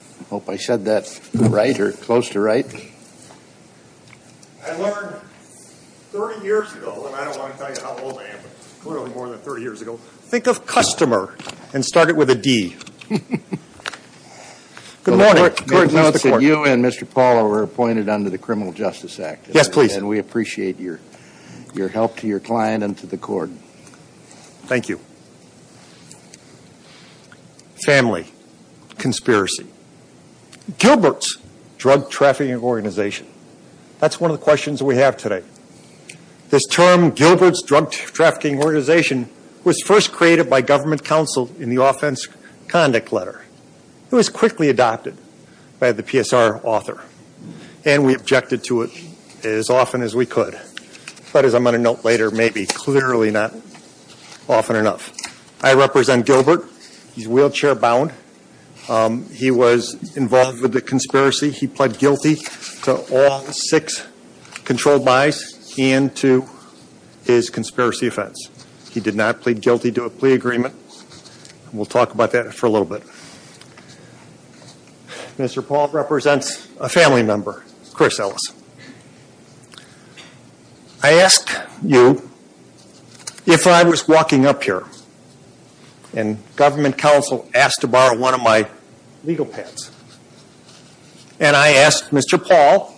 I hope I said that right or close to right. I learned 30 years ago, and I don't want to tell you how old I am, but clearly more than 30 years ago, think of customer and start it with a D. Good morning. The court notes that you and Mr. Paulo were appointed under the Criminal Justice Act. Yes, please. And we appreciate your help to your client and to the court. Thank you. Family. Conspiracy. Gilbert's Drug Trafficking Organization. That's one of the questions we have today. This term, Gilbert's Drug Trafficking Organization, was first created by government counsel in the Offense Conduct Letter. It was quickly adopted by the PSR author, and we objected to it as often as we could. But as I'm going to note later, maybe clearly not often enough. I represent Gilbert. He's wheelchair bound. He was involved with the conspiracy. He pled guilty to all six controlled buys and to his conspiracy offense. He did not plead guilty to a plea agreement. We'll talk about that for a little bit. Mr. Paul represents a family member, Chris Ellis. I asked you if I was walking up here and government counsel asked to borrow one of my legal pads. And I asked Mr. Paul,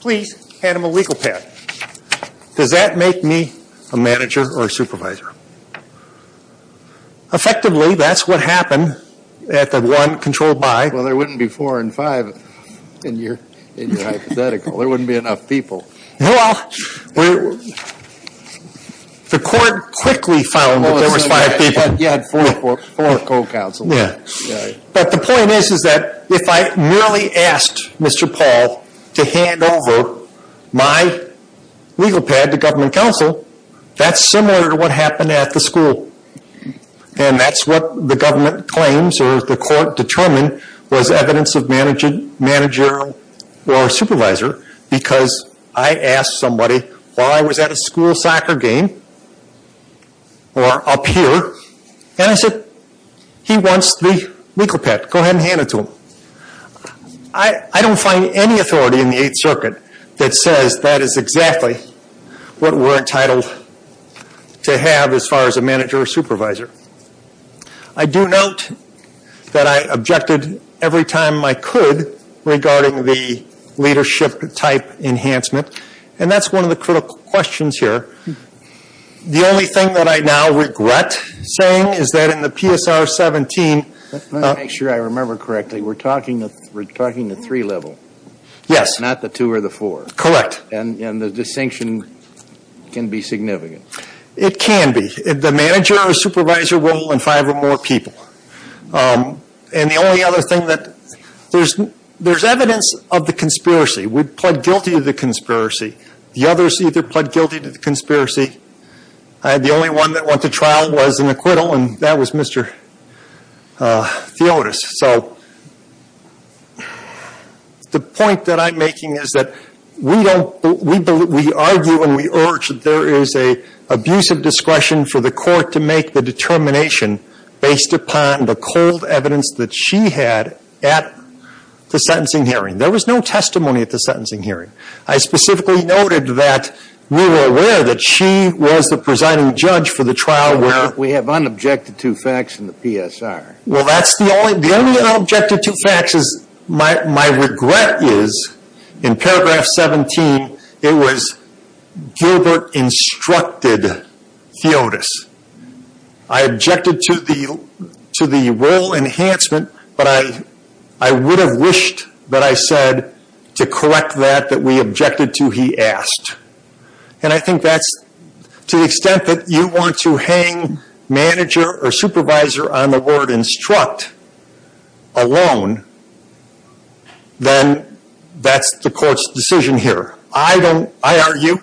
please hand him a legal pad. Does that make me a manager or a supervisor? Effectively, that's what happened at the one controlled buy. Well, there wouldn't be four and five in your hypothetical. There wouldn't be enough people. Well, the court quickly found that there was five people. You had four co-counsel. But the point is that if I merely asked Mr. Paul to hand over my legal pad to government counsel, that's similar to what happened at the school. And that's what the government claims or the court determined was evidence of managerial or supervisor because I asked somebody while I was at a school soccer game or up here, and I said, he wants the legal pad. Go ahead and hand it to him. I don't find any authority in the Eighth Circuit that says that is exactly what we're entitled to have as far as a manager or supervisor. I do note that I objected every time I could regarding the leadership type enhancement. And that's one of the critical questions here. The only thing that I now regret saying is that in the PSR 17. Let me make sure I remember correctly. We're talking the three level. Yes. Not the two or the four. Correct. And the distinction can be significant. It can be. The manager or supervisor will and five or more people. And the only other thing that there's evidence of the conspiracy. We pled guilty to the conspiracy. The others either pled guilty to the conspiracy. The only one that went to trial was an acquittal, and that was Mr. Theotis. So the point that I'm making is that we argue and we urge that there is an abusive discretion for the court to make the determination based upon the cold evidence that she had at the sentencing hearing. There was no testimony at the sentencing hearing. I specifically noted that we were aware that she was the presiding judge for the trial where. We have unobjected to facts in the PSR. Well, that's the only. The only unobjected to facts is my regret is in paragraph 17, it was Gilbert instructed Theotis. I objected to the role enhancement, but I would have wished that I said to correct that that we objected to he asked. And I think that's to the extent that you want to hang manager or supervisor on the word instruct alone. Then that's the court's decision here. I don't, I argue,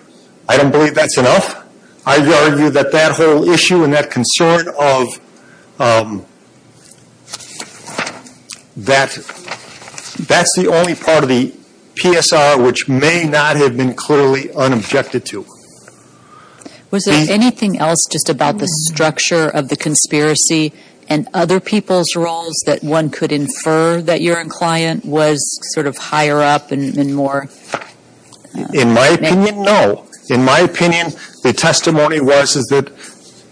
I don't believe that's enough. I argue that that whole issue and that concern of that, that's the only part of the PSR, which may not have been clearly unobjected to. Was there anything else just about the structure of the conspiracy and other people's roles that one could infer that your client was sort of higher up and more. In my opinion, no. In my opinion, the testimony was, is that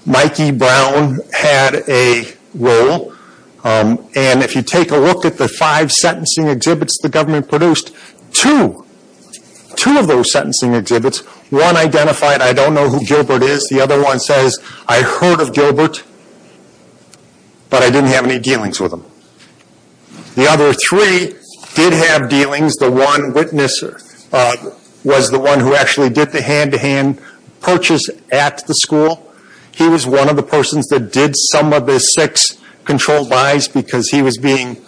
Mikey Brown had a role. And if you take a look at the five sentencing exhibits the government produced, two, two of those sentencing exhibits, one identified I don't know who Gilbert is. The other one says I heard of Gilbert, but I didn't have any dealings with him. The other three did have dealings. The one witness was the one who actually did the hand-to-hand purchase at the school. He was one of the persons that did some of the six controlled buys because he was being,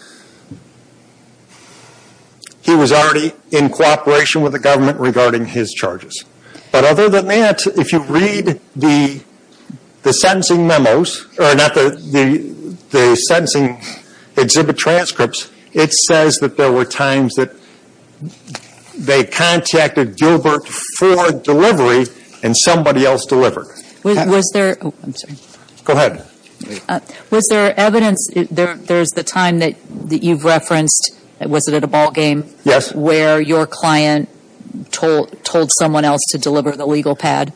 he was already in cooperation with the government regarding his charges. But other than that, if you read the sentencing memos, or not the sentencing exhibit transcripts, it says that there were times that they contacted Gilbert for delivery and somebody else delivered. Was there, I'm sorry. Go ahead. Was there evidence, there's the time that you've referenced, was it at a ball game? Yes. Where your client told someone else to deliver the legal pad.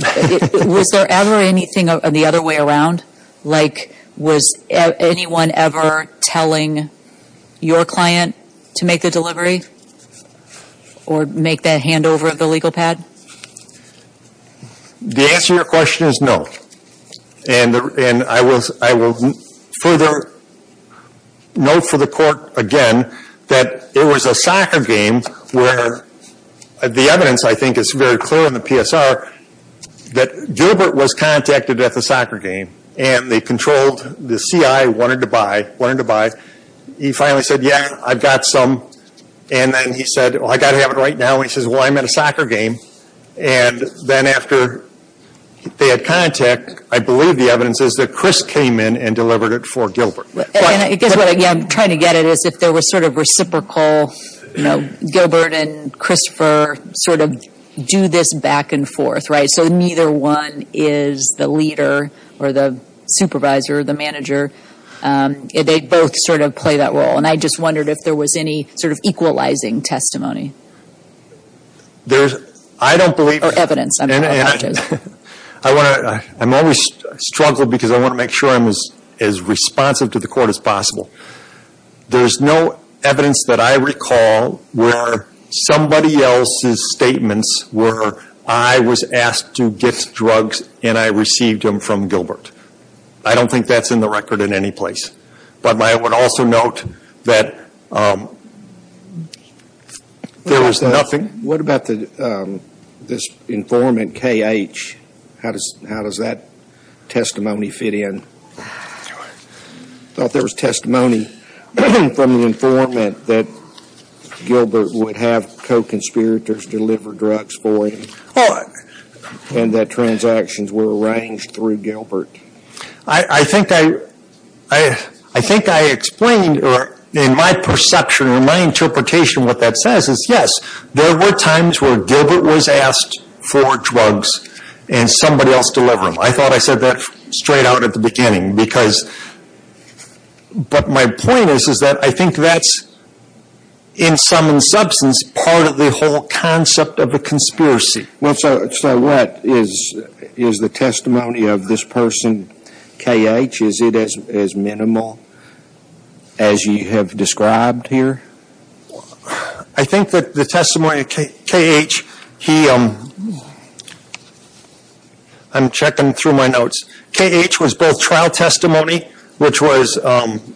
Was there ever anything the other way around? Like was anyone ever telling your client to make the delivery? Or make that handover of the legal pad? The answer to your question is no. And I will further note for the court again that there was a soccer game where the evidence, I think, is very clear in the PSR that Gilbert was contacted at the soccer game and they controlled, the CI wanted to buy, wanted to buy. He finally said, yeah, I've got some. And then he said, well, I've got to have it right now. And he says, well, I'm at a soccer game. And then after they had contact, I believe the evidence is that Chris came in and delivered it for Gilbert. I guess what I'm trying to get at is if there was sort of reciprocal, you know, Gilbert and Christopher sort of do this back and forth, right? So neither one is the leader or the supervisor or the manager. They both sort of play that role. And I just wondered if there was any sort of equalizing testimony. There's, I don't believe. Or evidence. I want to, I'm always struggling because I want to make sure I'm as responsive to the court as possible. There's no evidence that I recall where somebody else's statements were, I was asked to get drugs and I received them from Gilbert. I don't think that's in the record in any place. But I would also note that there was nothing. What about this informant, K.H.? How does that testimony fit in? I thought there was testimony from the informant that Gilbert would have co-conspirators deliver drugs for him. And that transactions were arranged through Gilbert. I think I, I think I explained in my perception, in my interpretation what that says is yes, there were times where Gilbert was asked for drugs and somebody else delivered them. I thought I said that straight out at the beginning because, but my point is, is that I think that's in sum and substance part of the whole concept of the conspiracy. So what is the testimony of this person, K.H.? Is it as minimal as you have described here? I think that the testimony of K.H., he, I'm checking through my notes, K.H. was both trial testimony, which was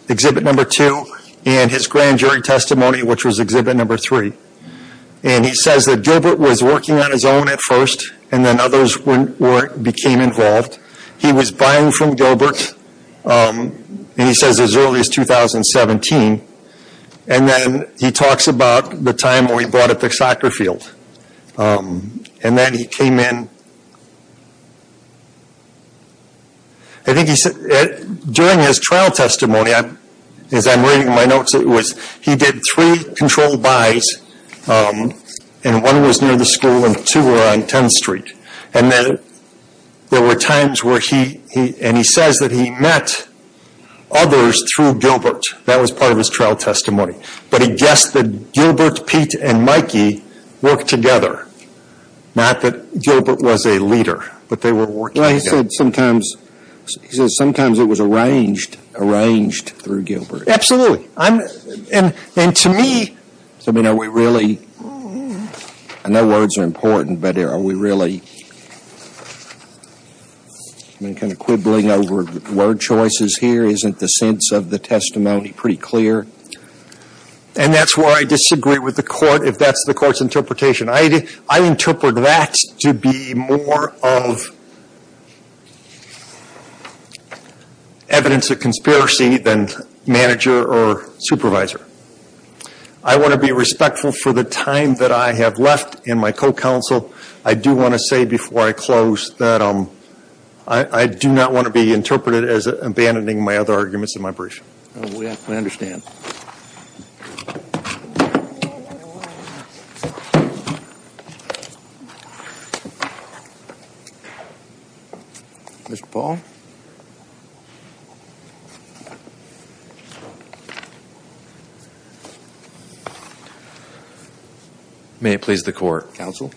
exhibit number two, and his grand jury testimony, which was exhibit number three. And he says that Gilbert was working on his own at first, and then others became involved. He was buying from Gilbert, and he says as early as 2017. And then he talks about the time where he bought at the soccer field. And then he came in, I think he said, during his trial testimony, as I'm reading my notes, it was he did three controlled buys, and one was near the school and two were on 10th Street. And then there were times where he, and he says that he met others through Gilbert. That was part of his trial testimony. But he guessed that Gilbert, Pete, and Mikey worked together, not that Gilbert was a leader, but they were working together. Well, he said sometimes, he said sometimes it was arranged, arranged through Gilbert. Absolutely. And to me, I mean, are we really, I know words are important, but are we really, I'm kind of quibbling over word choices here. Isn't the sense of the testimony pretty clear? And that's where I disagree with the Court, if that's the Court's interpretation. I interpret that to be more of evidence of conspiracy than manager or supervisor. I want to be respectful for the time that I have left in my co-counsel. I do want to say before I close that I do not want to be interpreted as abandoning my other arguments in my brief. We understand. Mr. Paul. May it please the Court. Counsel.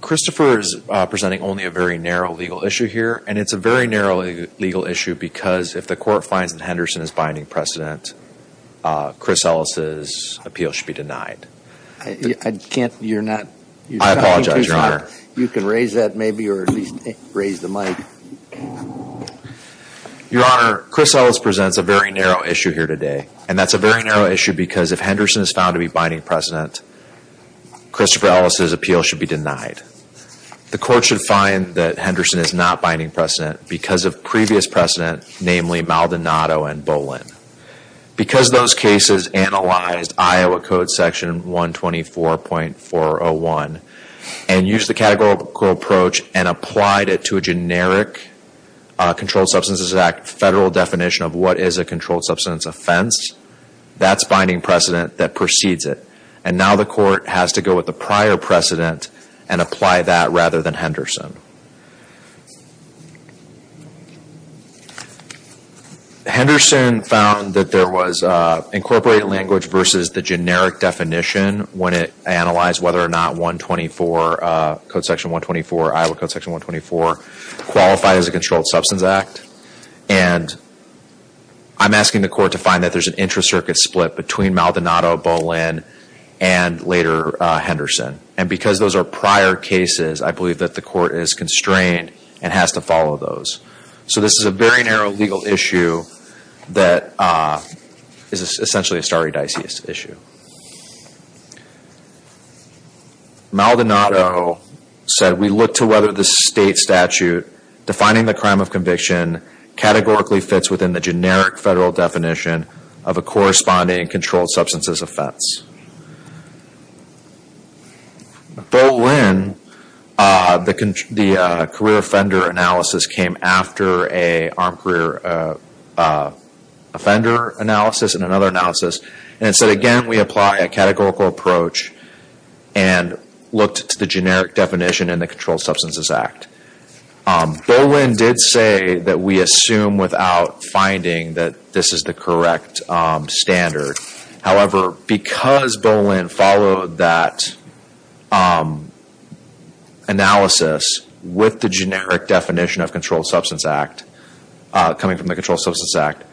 Christopher is presenting only a very narrow legal issue here. And it's a very narrow legal issue because if the Court finds that Henderson is binding precedent, Chris Ellis' appeal should be denied. I can't, you're not. I apologize, Your Honor. You can raise that maybe or at least raise the mic. Your Honor, Chris Ellis presents a very narrow issue here today. And that's a very narrow issue because if Henderson is found to be binding precedent, Christopher Ellis' appeal should be denied. The Court should find that Henderson is not binding precedent because of previous precedent, namely Maldonado and Bolin. Because those cases analyzed Iowa Code Section 124.401 and used the categorical approach and applied it to a generic Controlled Substances Act federal definition of what is a controlled substance offense, that's binding precedent that precedes it. And now the Court has to go with the prior precedent and apply that rather than Henderson. Henderson found that there was incorporated language versus the generic definition when it analyzed whether or not 124, Code Section 124, Iowa Code Section 124, qualified as a Controlled Substance Act. And I'm asking the Court to find that there's an intracircuit split between Maldonado, Bolin, and later Henderson. And because those are prior cases, I believe that the Court is constrained and has to follow those. So this is a very narrow legal issue that is essentially a stare dices issue. Maldonado said, We look to whether the state statute defining the crime of conviction categorically fits within the generic federal definition of a corresponding controlled substances offense. Bolin, the career offender analysis came after an armed career offender analysis and another analysis. And so again, we apply a categorical approach and looked to the generic definition in the Controlled Substances Act. Bolin did say that we assume without finding that this is the correct standard. However, because Bolin followed that analysis with the generic definition of Controlled Substance Act, coming from the Controlled Substances Act,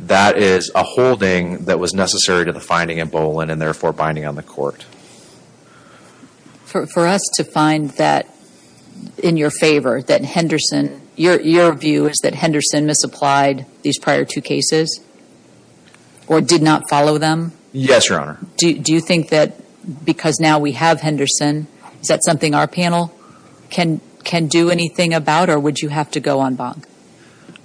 that is a holding that was necessary to the finding in Bolin and therefore binding on the Court. For us to find that in your favor, that Henderson, your view is that Henderson misapplied these prior two cases? Or did not follow them? Yes, Your Honor. Do you think that because now we have Henderson, is that something our panel can do anything about? Or would you have to go en banc?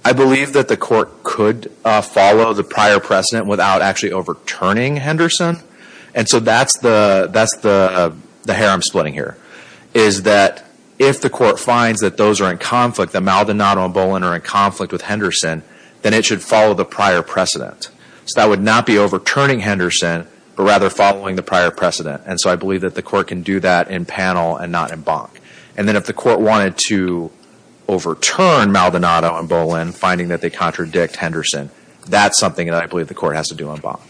I believe that the Court could follow the prior precedent without actually overturning Henderson. And so that is the hair I am splitting here. Is that if the Court finds that those are in conflict, that Maldonado and Bolin are in conflict with Henderson, then it should follow the prior precedent. So that would not be overturning Henderson, but rather following the prior precedent. And so I believe that the Court can do that in panel and not en banc. And then if the Court wanted to overturn Maldonado and Bolin, finding that they contradict Henderson, that is something that I believe the Court has to do en banc.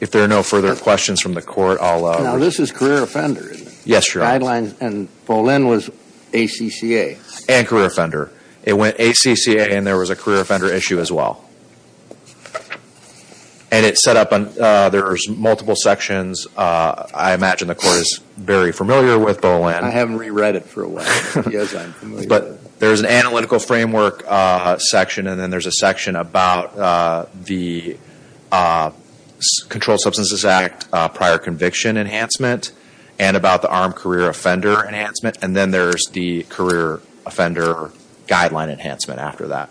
If there are no further questions from the Court, I will... Now this is career offender, isn't it? Yes, Your Honor. Guidelines and Bolin was ACCA. And career offender. It went ACCA and there was a career offender issue as well. And it is set up. There are multiple sections. I imagine the Court is very familiar with Bolin. I haven't re-read it for a while. Yes, I am familiar with it. But there is an analytical framework section, and then there is a section about the Controlled Substances Act prior conviction enhancement, and about the armed career offender enhancement. And then there is the career offender guideline enhancement after that.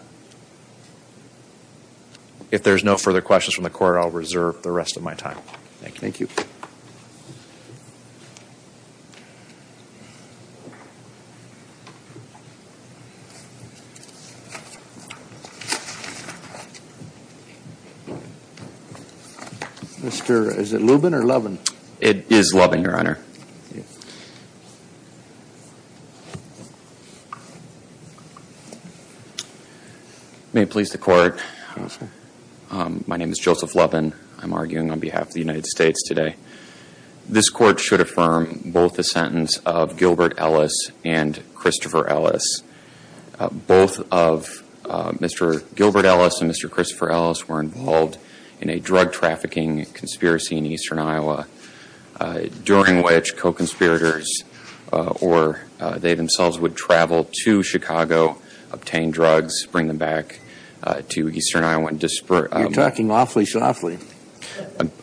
If there are no further questions from the Court, I will reserve the rest of my time. Mr. Is it Lubin or Lubin? It is Lubin, Your Honor. May it please the Court. Yes, sir. My name is Joseph Lubin. I'm arguing on behalf of the United States today. This Court should affirm both the sentence of Gilbert Ellis and Christopher Ellis. Both of Mr. Gilbert Ellis and Mr. Christopher Ellis were involved in a drug trafficking conspiracy in eastern Iowa, during which co-conspirators or they themselves would travel to Chicago, obtain drugs, bring them back to eastern Iowa and disperse them. You're talking awfully softly.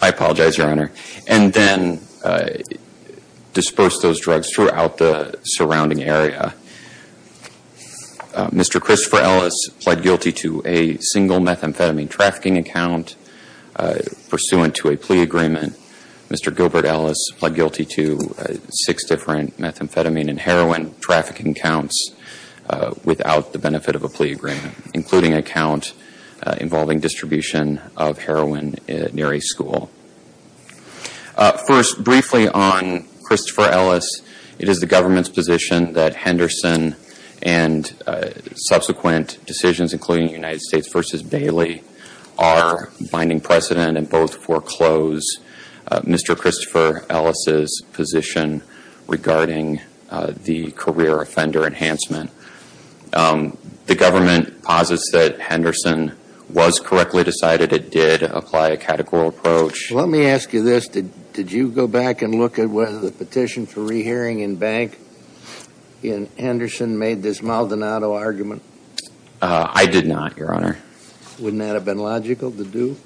I apologize, Your Honor. And then disperse those drugs throughout the surrounding area. Mr. Christopher Ellis pled guilty to a single methamphetamine trafficking account pursuant to a plea agreement. Mr. Gilbert Ellis pled guilty to six different methamphetamine and heroin trafficking accounts without the benefit of a plea agreement, including an account involving distribution of heroin near a school. First, briefly on Christopher Ellis, it is the government's position that Henderson and subsequent decisions, including the United States v. Bailey, are binding precedent and both foreclose Mr. Christopher Ellis' position regarding the career offender enhancement. The government posits that Henderson was correctly decided. It did apply a categorical approach. Let me ask you this. Did you go back and look at whether the petition for rehearing in bank in Henderson made this Maldonado argument? I did not, Your Honor. Wouldn't that have been logical to do?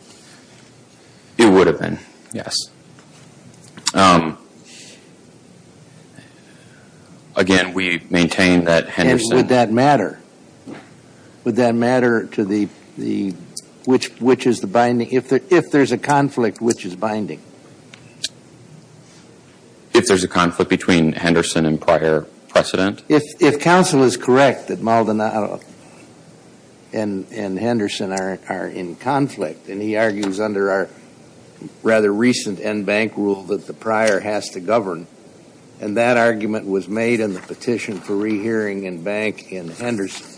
It would have been, yes. Again, we maintain that Henderson Would that matter? Would that matter to the, which is the binding? If there's a conflict, which is binding? If there's a conflict between Henderson and prior precedent? If counsel is correct that Maldonado and Henderson are in conflict, and he argues under our rather recent NBank rule that the prior has to govern, and that argument was made in the petition for rehearing in bank in Henderson,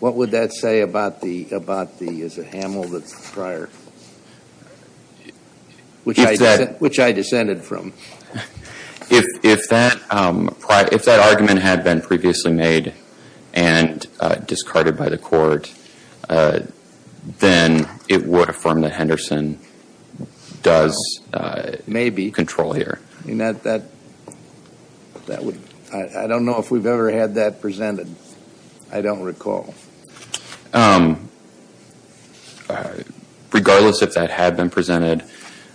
what would that say about the, is it Hamill that's the prior? Which I descended from. If that argument had been previously made and discarded by the court, then it would affirm that Henderson does control here. I don't know if we've ever had that presented. I don't recall. Regardless if that had been presented,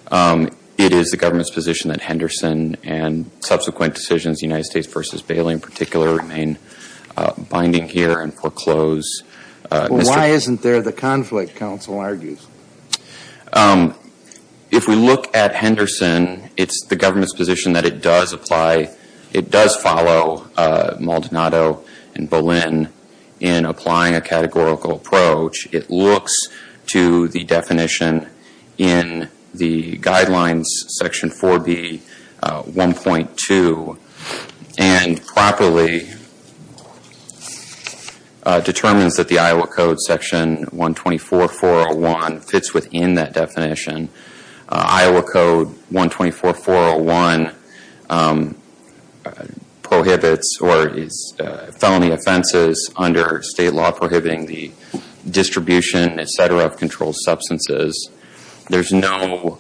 it is the government's position that Henderson and subsequent decisions, United States v. Bailey in particular, remain binding here and foreclose. Why isn't there the conflict, counsel argues? If we look at Henderson, it's the government's position that it does apply, it does follow Maldonado and Boleyn in applying a categorical approach. It looks to the definition in the guidelines section 4B.1.2, and properly determines that the Iowa Code section 124.401 fits within that definition. Iowa Code 124.401 prohibits or is felony offenses under state law prohibiting the distribution, etc., of controlled substances. There's no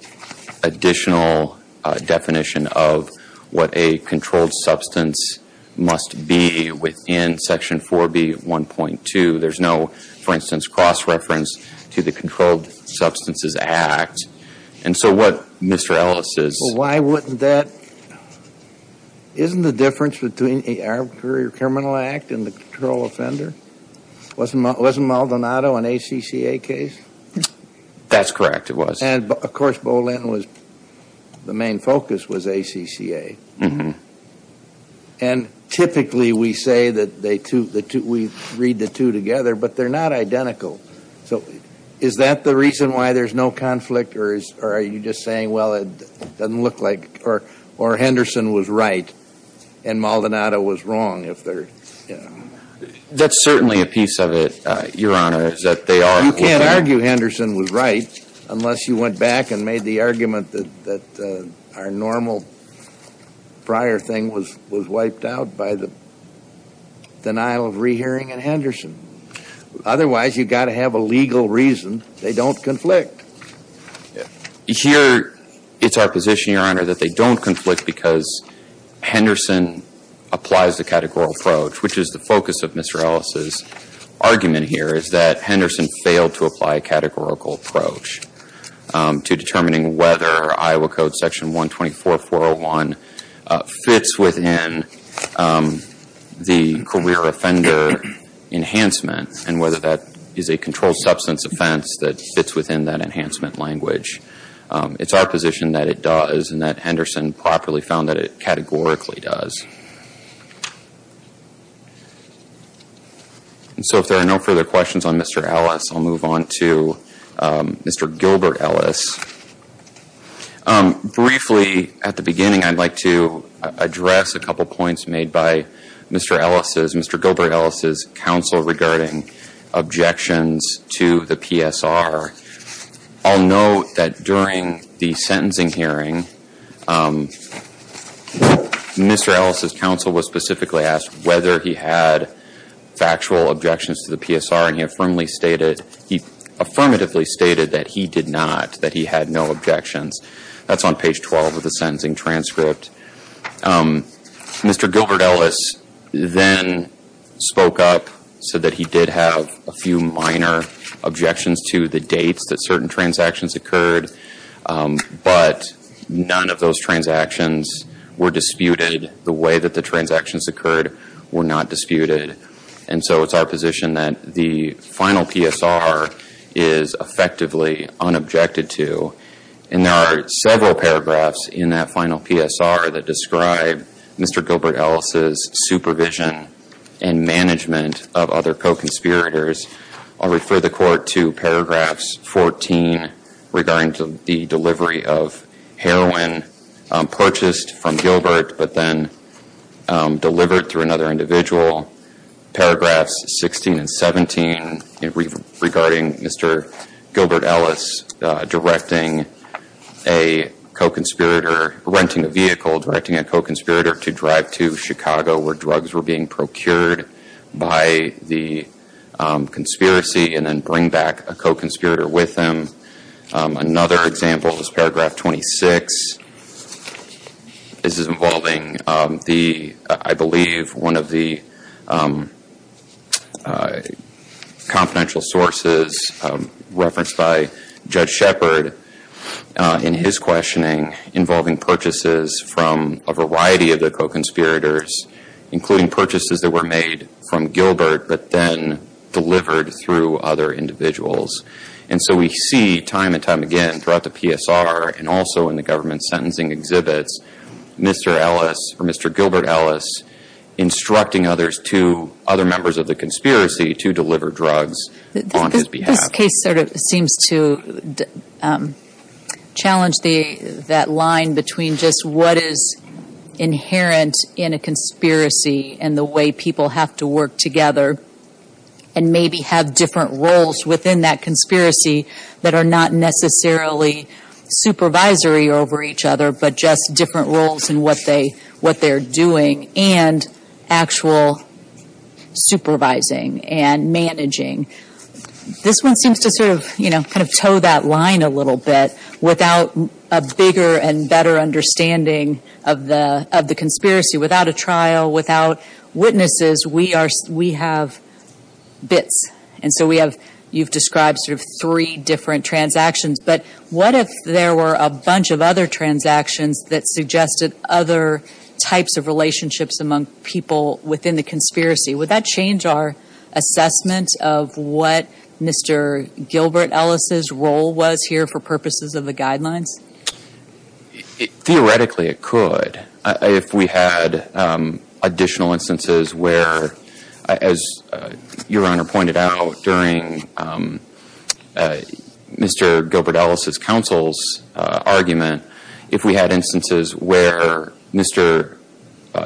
additional definition of what a controlled substance must be within section 4B.1.2. There's no, for instance, cross-reference to the Controlled Substances Act. And so what Mr. Ellis is... Well, why wouldn't that... Isn't the difference between the Arbitrary Criminal Act and the control offender? Wasn't Maldonado an ACCA case? That's correct, it was. And, of course, Boleyn was... the main focus was ACCA. And typically we say that we read the two together, but they're not identical. So is that the reason why there's no conflict? Or are you just saying, well, it doesn't look like... Or Henderson was right and Maldonado was wrong? That's certainly a piece of it, Your Honor, is that they are... You can't argue Henderson was right unless you went back and made the argument that our normal prior thing was wiped out by the denial of rehearing in Henderson. Otherwise, you've got to have a legal reason they don't conflict. Here, it's our position, Your Honor, that they don't conflict because Henderson applies the categorical approach, which is the focus of Mr. Ellis's argument here, is that Henderson failed to apply a categorical approach to determining whether Iowa Code Section 124.401 fits within the career offender enhancement and whether that is a controlled substance offense that fits within that enhancement language. It's our position that it does and that Henderson properly found that it categorically does. And so if there are no further questions on Mr. Ellis, I'll move on to Mr. Gilbert Ellis. Briefly, at the beginning, I'd like to address a couple points made by Mr. Ellis's... Mr. Gilbert Ellis's counsel regarding objections to the PSR. I'll note that during the sentencing hearing, Mr. Ellis's counsel was specifically asked whether he had factual objections to the PSR and he affirmatively stated that he did not, that he had no objections. That's on page 12 of the sentencing transcript. Mr. Gilbert Ellis then spoke up, said that he did have a few minor objections to the dates that certain transactions occurred, but none of those transactions were disputed. The way that the transactions occurred were not disputed. And so it's our position that the final PSR is effectively unobjected to. And there are several paragraphs in that final PSR that describe Mr. Gilbert Ellis's supervision and management of other co-conspirators. I'll refer the Court to paragraphs 14 regarding the delivery of heroin purchased from Gilbert, but then delivered through another individual. Paragraphs 16 and 17 regarding Mr. Gilbert Ellis directing a co-conspirator, renting a vehicle directing a co-conspirator to drive to Chicago where drugs were being procured by the conspiracy, and then bring back a co-conspirator with him. Another example is paragraph 26. This is involving, I believe, one of the confidential sources referenced by Judge Shepard in his questioning involving purchases from a variety of the co-conspirators, including purchases that were made from Gilbert but then delivered through other individuals. And so we see time and time again throughout the PSR and also in the government sentencing exhibits Mr. Ellis or Mr. Gilbert Ellis instructing other members of the conspiracy to deliver drugs on his behalf. This case sort of seems to challenge that line between just what is inherent in a conspiracy and the way people have to work together and maybe have different roles within that conspiracy that are not necessarily supervisory over each other, but just different roles in what they're doing and actual supervising and managing. This one seems to sort of, you know, kind of toe that line a little bit without a bigger and better understanding of the conspiracy. Without a trial, without witnesses, we have bits. And so we have, you've described sort of three different transactions, but what if there were a bunch of other transactions that suggested other types of relationships among people within the conspiracy? Would that change our assessment of what Mr. Gilbert Ellis' role was here for purposes of the guidelines? Theoretically, it could. If we had additional instances where, as Your Honor pointed out during Mr. Gilbert Ellis' counsel's argument, if we had instances where Mr.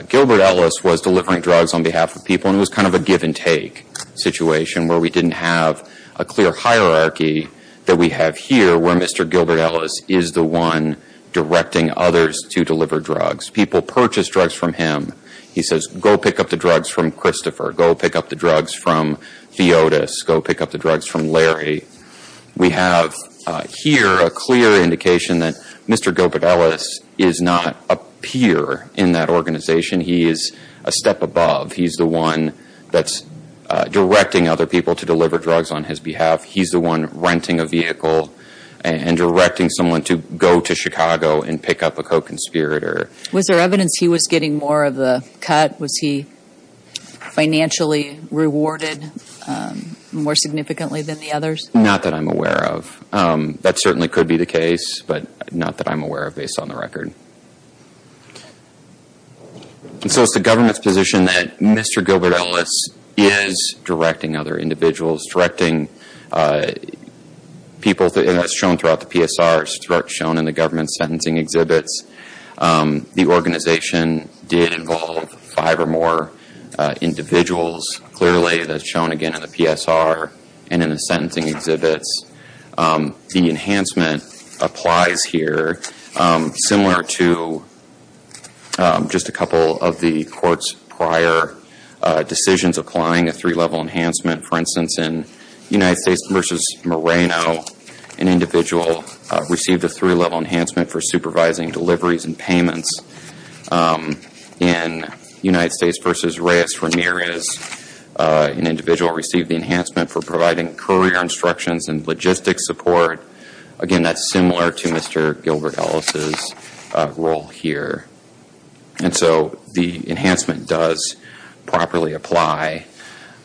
Gilbert Ellis was delivering drugs on behalf of people, and it was kind of a give-and-take situation where we didn't have a clear hierarchy that we have here where Mr. Gilbert Ellis is the one directing others to deliver drugs. People purchase drugs from him. He says, go pick up the drugs from Christopher. Go pick up the drugs from Theotis. Go pick up the drugs from Larry. We have here a clear indication that Mr. Gilbert Ellis is not a peer in that organization. He is a step above. He's the one that's directing other people to deliver drugs on his behalf. He's the one renting a vehicle and directing someone to go to Chicago and pick up a co-conspirator. Was there evidence he was getting more of the cut? Was he financially rewarded more significantly than the others? Not that I'm aware of. That certainly could be the case, but not that I'm aware of based on the record. And so it's the government's position that Mr. Gilbert Ellis is directing other individuals, directing people, and that's shown throughout the PSR. It's shown in the government sentencing exhibits. The organization did involve five or more individuals. Clearly that's shown again in the PSR and in the sentencing exhibits. The enhancement applies here similar to just a couple of the courts' prior decisions applying a three-level enhancement. For instance, in United States v. Moreno, an individual received a three-level enhancement for supervising deliveries and payments. In United States v. Reyes Ramirez, an individual received the enhancement for providing courier instructions and logistics support. Again, that's similar to Mr. Gilbert Ellis' role here. And so the enhancement does properly apply.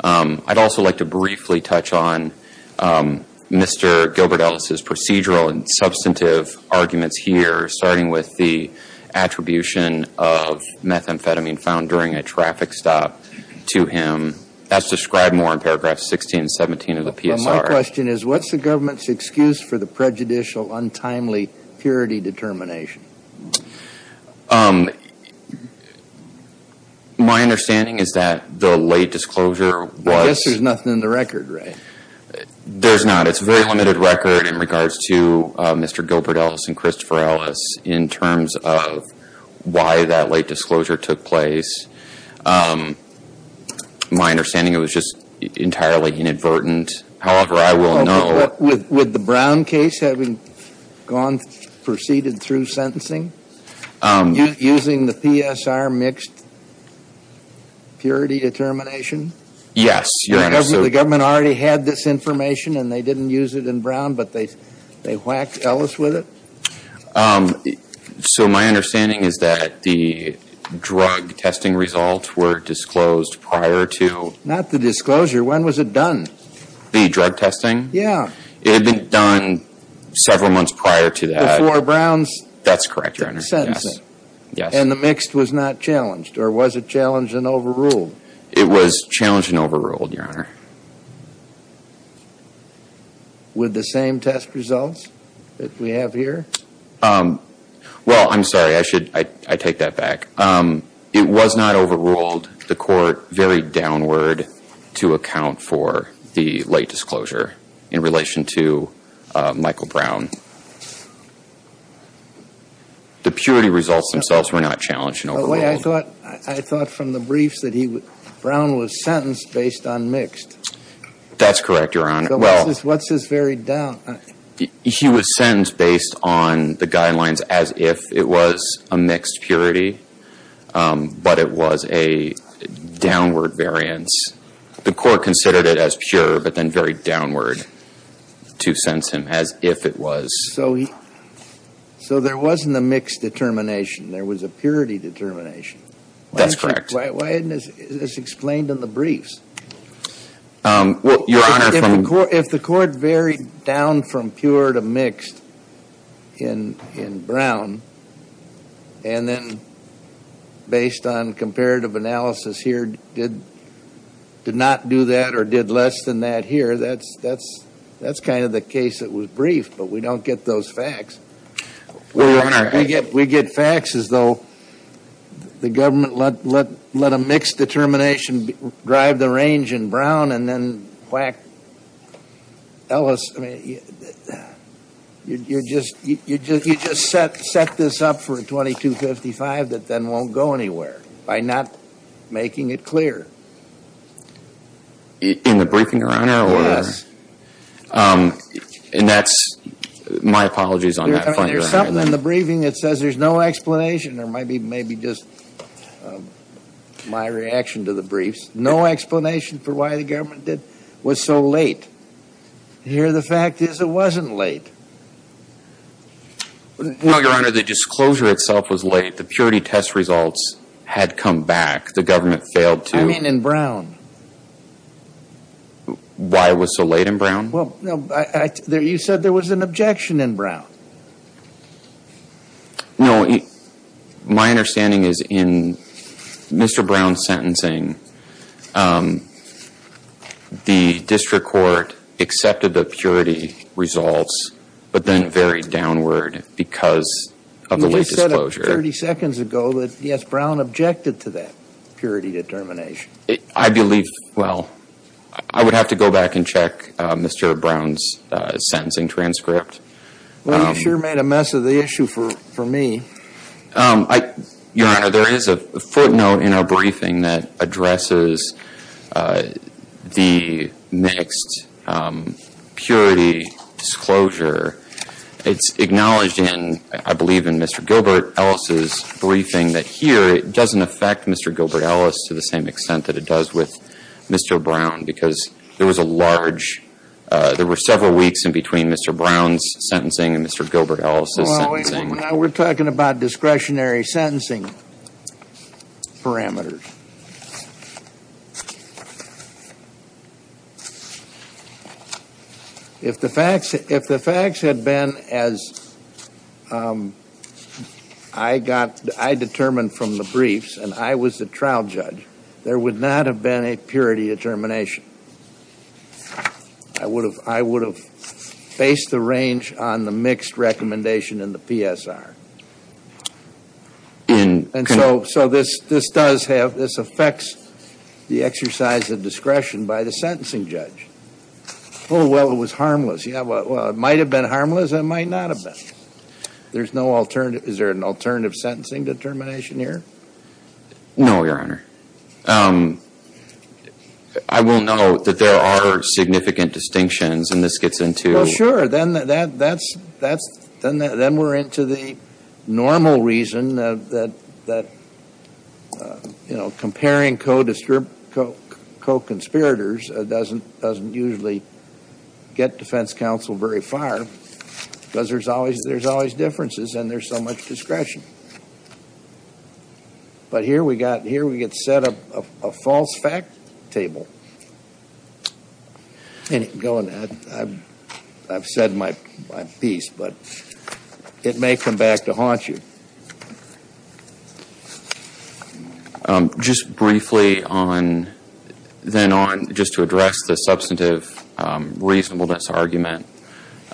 I'd also like to briefly touch on Mr. Gilbert Ellis' procedural and substantive arguments here, starting with the attribution of methamphetamine found during a traffic stop to him. That's described more in paragraphs 16 and 17 of the PSR. My question is, what's the government's excuse for the prejudicial, untimely purity determination? My understanding is that the late disclosure was- I guess there's nothing in the record, right? There's not. It's a very limited record in regards to Mr. Gilbert Ellis and Christopher Ellis in terms of why that late disclosure took place. My understanding, it was just entirely inadvertent. However, I will know- With the Brown case having proceeded through sentencing? Using the PSR mixed purity determination? Yes, Your Honor. The government already had this information and they didn't use it in Brown, but they whacked Ellis with it? So my understanding is that the drug testing results were disclosed prior to- Not the disclosure. When was it done? The drug testing? Yeah. It had been done several months prior to that. Before Brown's- That's correct, Your Honor. Yes. And the mixed was not challenged, or was it challenged and overruled? It was challenged and overruled, Your Honor. With the same test results that we have here? Well, I'm sorry. I take that back. It was not overruled. The court varied downward to account for the late disclosure in relation to Michael Brown. The purity results themselves were not challenged and overruled. I thought from the briefs that Brown was sentenced based on mixed. That's correct, Your Honor. What's this varied down? He was sentenced based on the guidelines as if it was a mixed purity, but it was a downward variance. The court considered it as pure, but then varied downward to sense him as if it was- So there wasn't a mixed determination. There was a purity determination. That's correct. Why isn't this explained in the briefs? Well, Your Honor- If the court varied down from pure to mixed in Brown, and then based on comparative analysis here did not do that or did less than that here, that's kind of the case that was briefed, but we don't get those facts. Well, Your Honor- We get facts as though the government let a mixed determination drive the range in Brown, and then whack Ellis. I mean, you just set this up for a 2255 that then won't go anywhere by not making it clear. In the briefing, Your Honor? Yes. And that's- My apologies on that, Your Honor. There's something in the briefing that says there's no explanation, or maybe just my reaction to the briefs. No explanation for why the government was so late. Here the fact is it wasn't late. Well, Your Honor, the disclosure itself was late. The purity test results had come back. The government failed to- I mean in Brown. Why it was so late in Brown? You said there was an objection in Brown. No. My understanding is in Mr. Brown's sentencing, the district court accepted the purity results, but then it varied downward because of the late disclosure. You just said 30 seconds ago that, yes, Brown objected to that purity determination. I believe- Well, I would have to go back and check Mr. Brown's sentencing transcript. Well, you sure made a mess of the issue for me. Your Honor, there is a footnote in our briefing that addresses the mixed purity disclosure. It's acknowledged in, I believe in Mr. Gilbert Ellis' briefing, that here it doesn't affect Mr. Gilbert Ellis to the same extent that it does with Mr. Brown because there was a large- there were several weeks in between Mr. Brown's sentencing and Mr. Gilbert Ellis' sentencing. Well, now we're talking about discretionary sentencing parameters. If the facts had been as I got- I determined from the briefs and I was the trial judge, there would not have been a purity determination. I would have faced the range on the mixed recommendation in the PSR. And so this does have- this affects the exercise of discretion by the sentencing judge. Oh, well, it was harmless. Yeah, well, it might have been harmless. It might not have been. There's no alternative. Is there an alternative sentencing determination here? No, Your Honor. I will note that there are significant distinctions, and this gets into- Sure, then we're into the normal reason that, you know, comparing co-conspirators doesn't usually get defense counsel very far because there's always differences and there's so much discretion. But here we get set up a false fact table. Go on. I've said my piece, but it may come back to haunt you. Just briefly on- then on just to address the substantive reasonableness argument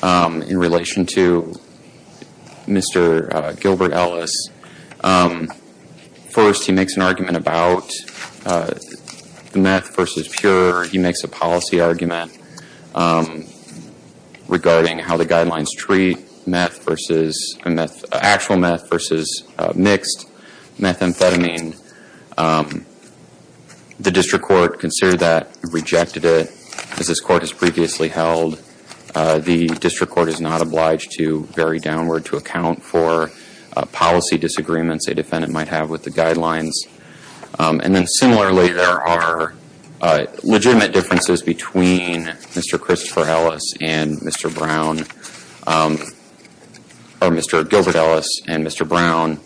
in relation to Mr. Gilbert Ellis. First, he makes an argument about meth versus pure. He makes a policy argument regarding how the guidelines treat meth versus- actual meth versus mixed methamphetamine. The district court considered that, rejected it. As this court has previously held, the district court is not obliged to vary downward to account for policy disagreements a defendant might have with the guidelines. And then similarly, there are legitimate differences between Mr. Christopher Ellis and Mr. Brown- or Mr. Gilbert Ellis and Mr. Brown.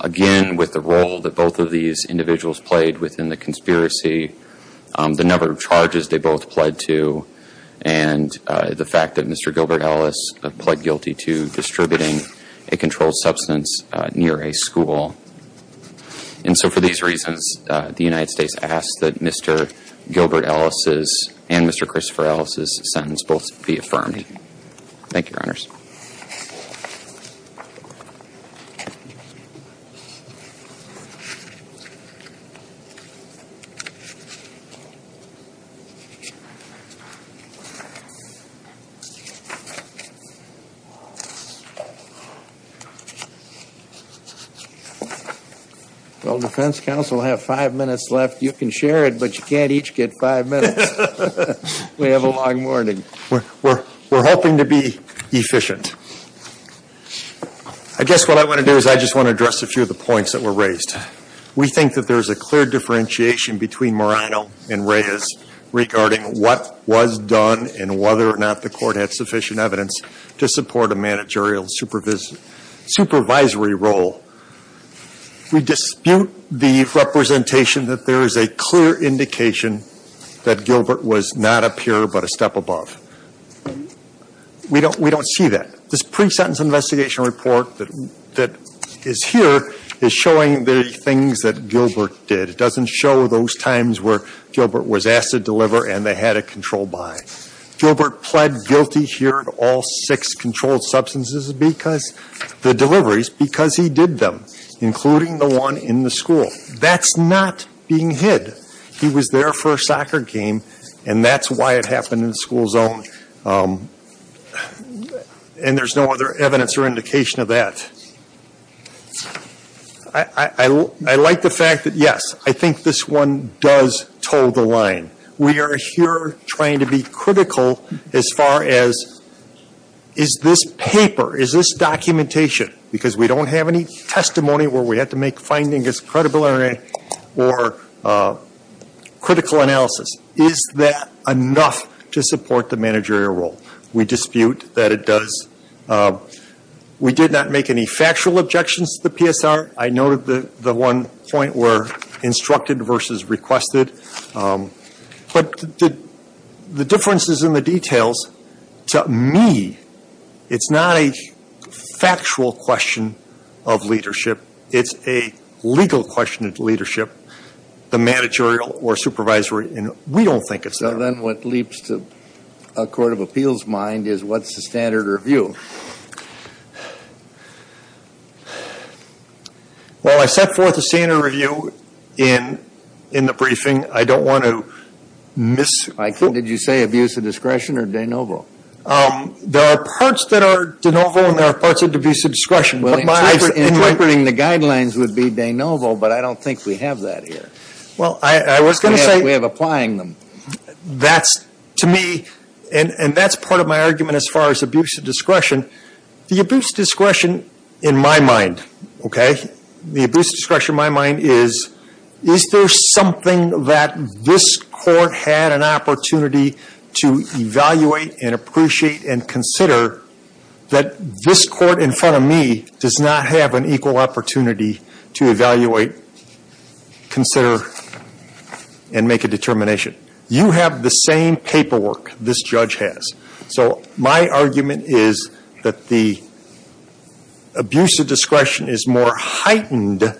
Again, with the role that both of these individuals played within the conspiracy, the number of charges they both pled to, and the fact that Mr. Gilbert Ellis pled guilty to distributing a controlled substance near a school. And so for these reasons, the United States asks that Mr. Gilbert Ellis' and Mr. Christopher Ellis' sentence both be affirmed. Thank you, Your Honors. Well, defense counsel, I have five minutes left. You can share it, but you can't each get five minutes. We have a long morning. We're hoping to be efficient. I guess what I want to do is I just want to address a few of the points that were raised. We think that there is a clear differentiation between morphine and meth. regarding what was done and whether or not the court had sufficient evidence to support a managerial supervisory role. We dispute the representation that there is a clear indication that Gilbert was not a peer but a step above. We don't see that. This pre-sentence investigation report that is here is showing the things that Gilbert did. It doesn't show those times where Gilbert was asked to deliver and they had it controlled by. Gilbert pled guilty here to all six controlled substances because the deliveries, because he did them, including the one in the school. That's not being hid. He was there for a soccer game, and that's why it happened in the school zone. And there's no other evidence or indication of that. I like the fact that, yes, I think this one does toe the line. We are here trying to be critical as far as is this paper, is this documentation, because we don't have any testimony where we have to make findings as credible or critical analysis. Is that enough to support the managerial role? We dispute that it does. We did not make any factual objections to the PSR. I noted the one point where instructed versus requested. But the differences in the details, to me, it's not a factual question of leadership. It's a legal question of leadership. The managerial or supervisory, we don't think it's there. Well, then what leaps to a court of appeals mind is what's the standard review? Well, I set forth a standard review in the briefing. I don't want to miss. Did you say abuse of discretion or de novo? There are parts that are de novo and there are parts of abuse of discretion. Interpreting the guidelines would be de novo, but I don't think we have that here. We have applying them. That's, to me, and that's part of my argument as far as abuse of discretion. The abuse of discretion in my mind, okay, the abuse of discretion in my mind is, is there something that this court had an opportunity to evaluate and appreciate and consider that this court in front of me does not have an equal opportunity to evaluate, consider, and make a determination. You have the same paperwork this judge has. So my argument is that the abuse of discretion is more heightened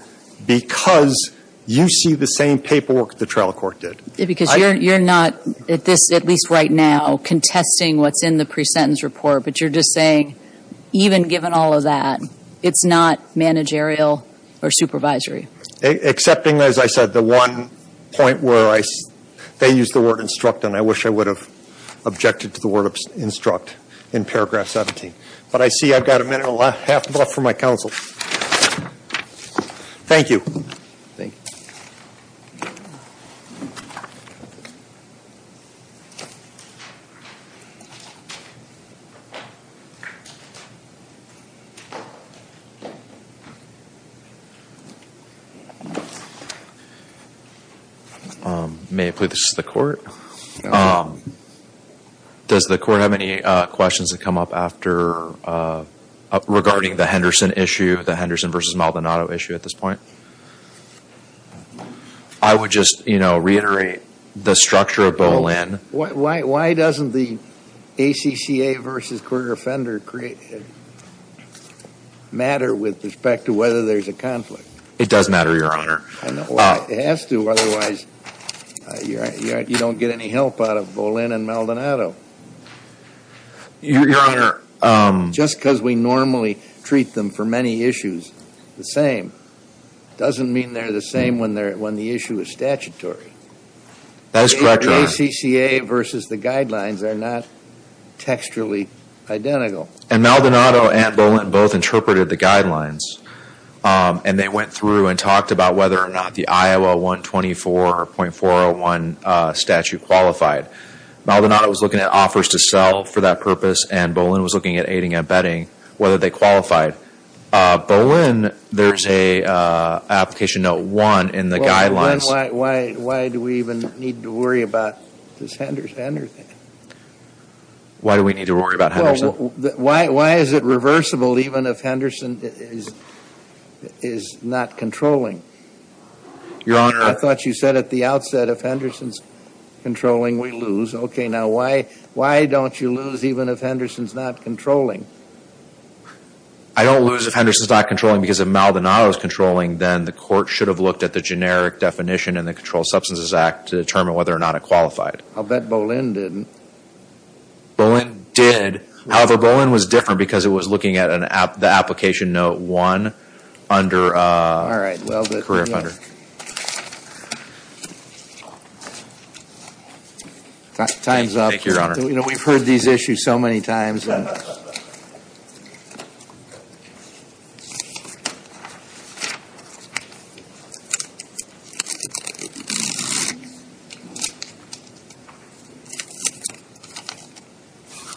because you see the same paperwork the trial court did. Because you're not, at least right now, contesting what's in the pre-sentence report, but you're just saying even given all of that, it's not managerial or supervisory. Accepting, as I said, the one point where they used the word instruct, and I wish I would have objected to the word instruct in paragraph 17. But I see I've got a minute and a half left for my counsel. Thank you. Thank you. May I please ask the court, does the court have any questions that come up after, regarding the Henderson issue, the Henderson v. Maldonado issue at this point? I would just reiterate the structure of Boleyn. Why doesn't the ACCA v. Kruger-Fender matter with respect to whether there's a conflict? It does matter, Your Honor. It has to, otherwise you don't get any help out of Boleyn and Maldonado. Your Honor. Just because we normally treat them for many issues the same, doesn't mean they're the same when the issue is statutory. That is correct, Your Honor. The ACCA v. the guidelines are not textually identical. And Maldonado and Boleyn both interpreted the guidelines, and they went through and talked about whether or not the Iowa 124.401 statute qualified. Maldonado was looking at offers to sell for that purpose, and Boleyn was looking at aiding and abetting, whether they qualified. Boleyn, there's an application note one in the guidelines. Boleyn, why do we even need to worry about this Henderson? Why do we need to worry about Henderson? Why is it reversible even if Henderson is not controlling? Your Honor. I thought you said at the outset if Henderson is controlling, we lose. Okay, now why don't you lose even if Henderson is not controlling? I don't lose if Henderson is not controlling because if Maldonado is controlling, then the court should have looked at the generic definition in the Controlled Substances Act to determine whether or not it qualified. I'll bet Boleyn didn't. Boleyn did. However, Boleyn was different because it was looking at the application note one under career offender. All right. Time's up. We've heard these issues so many times.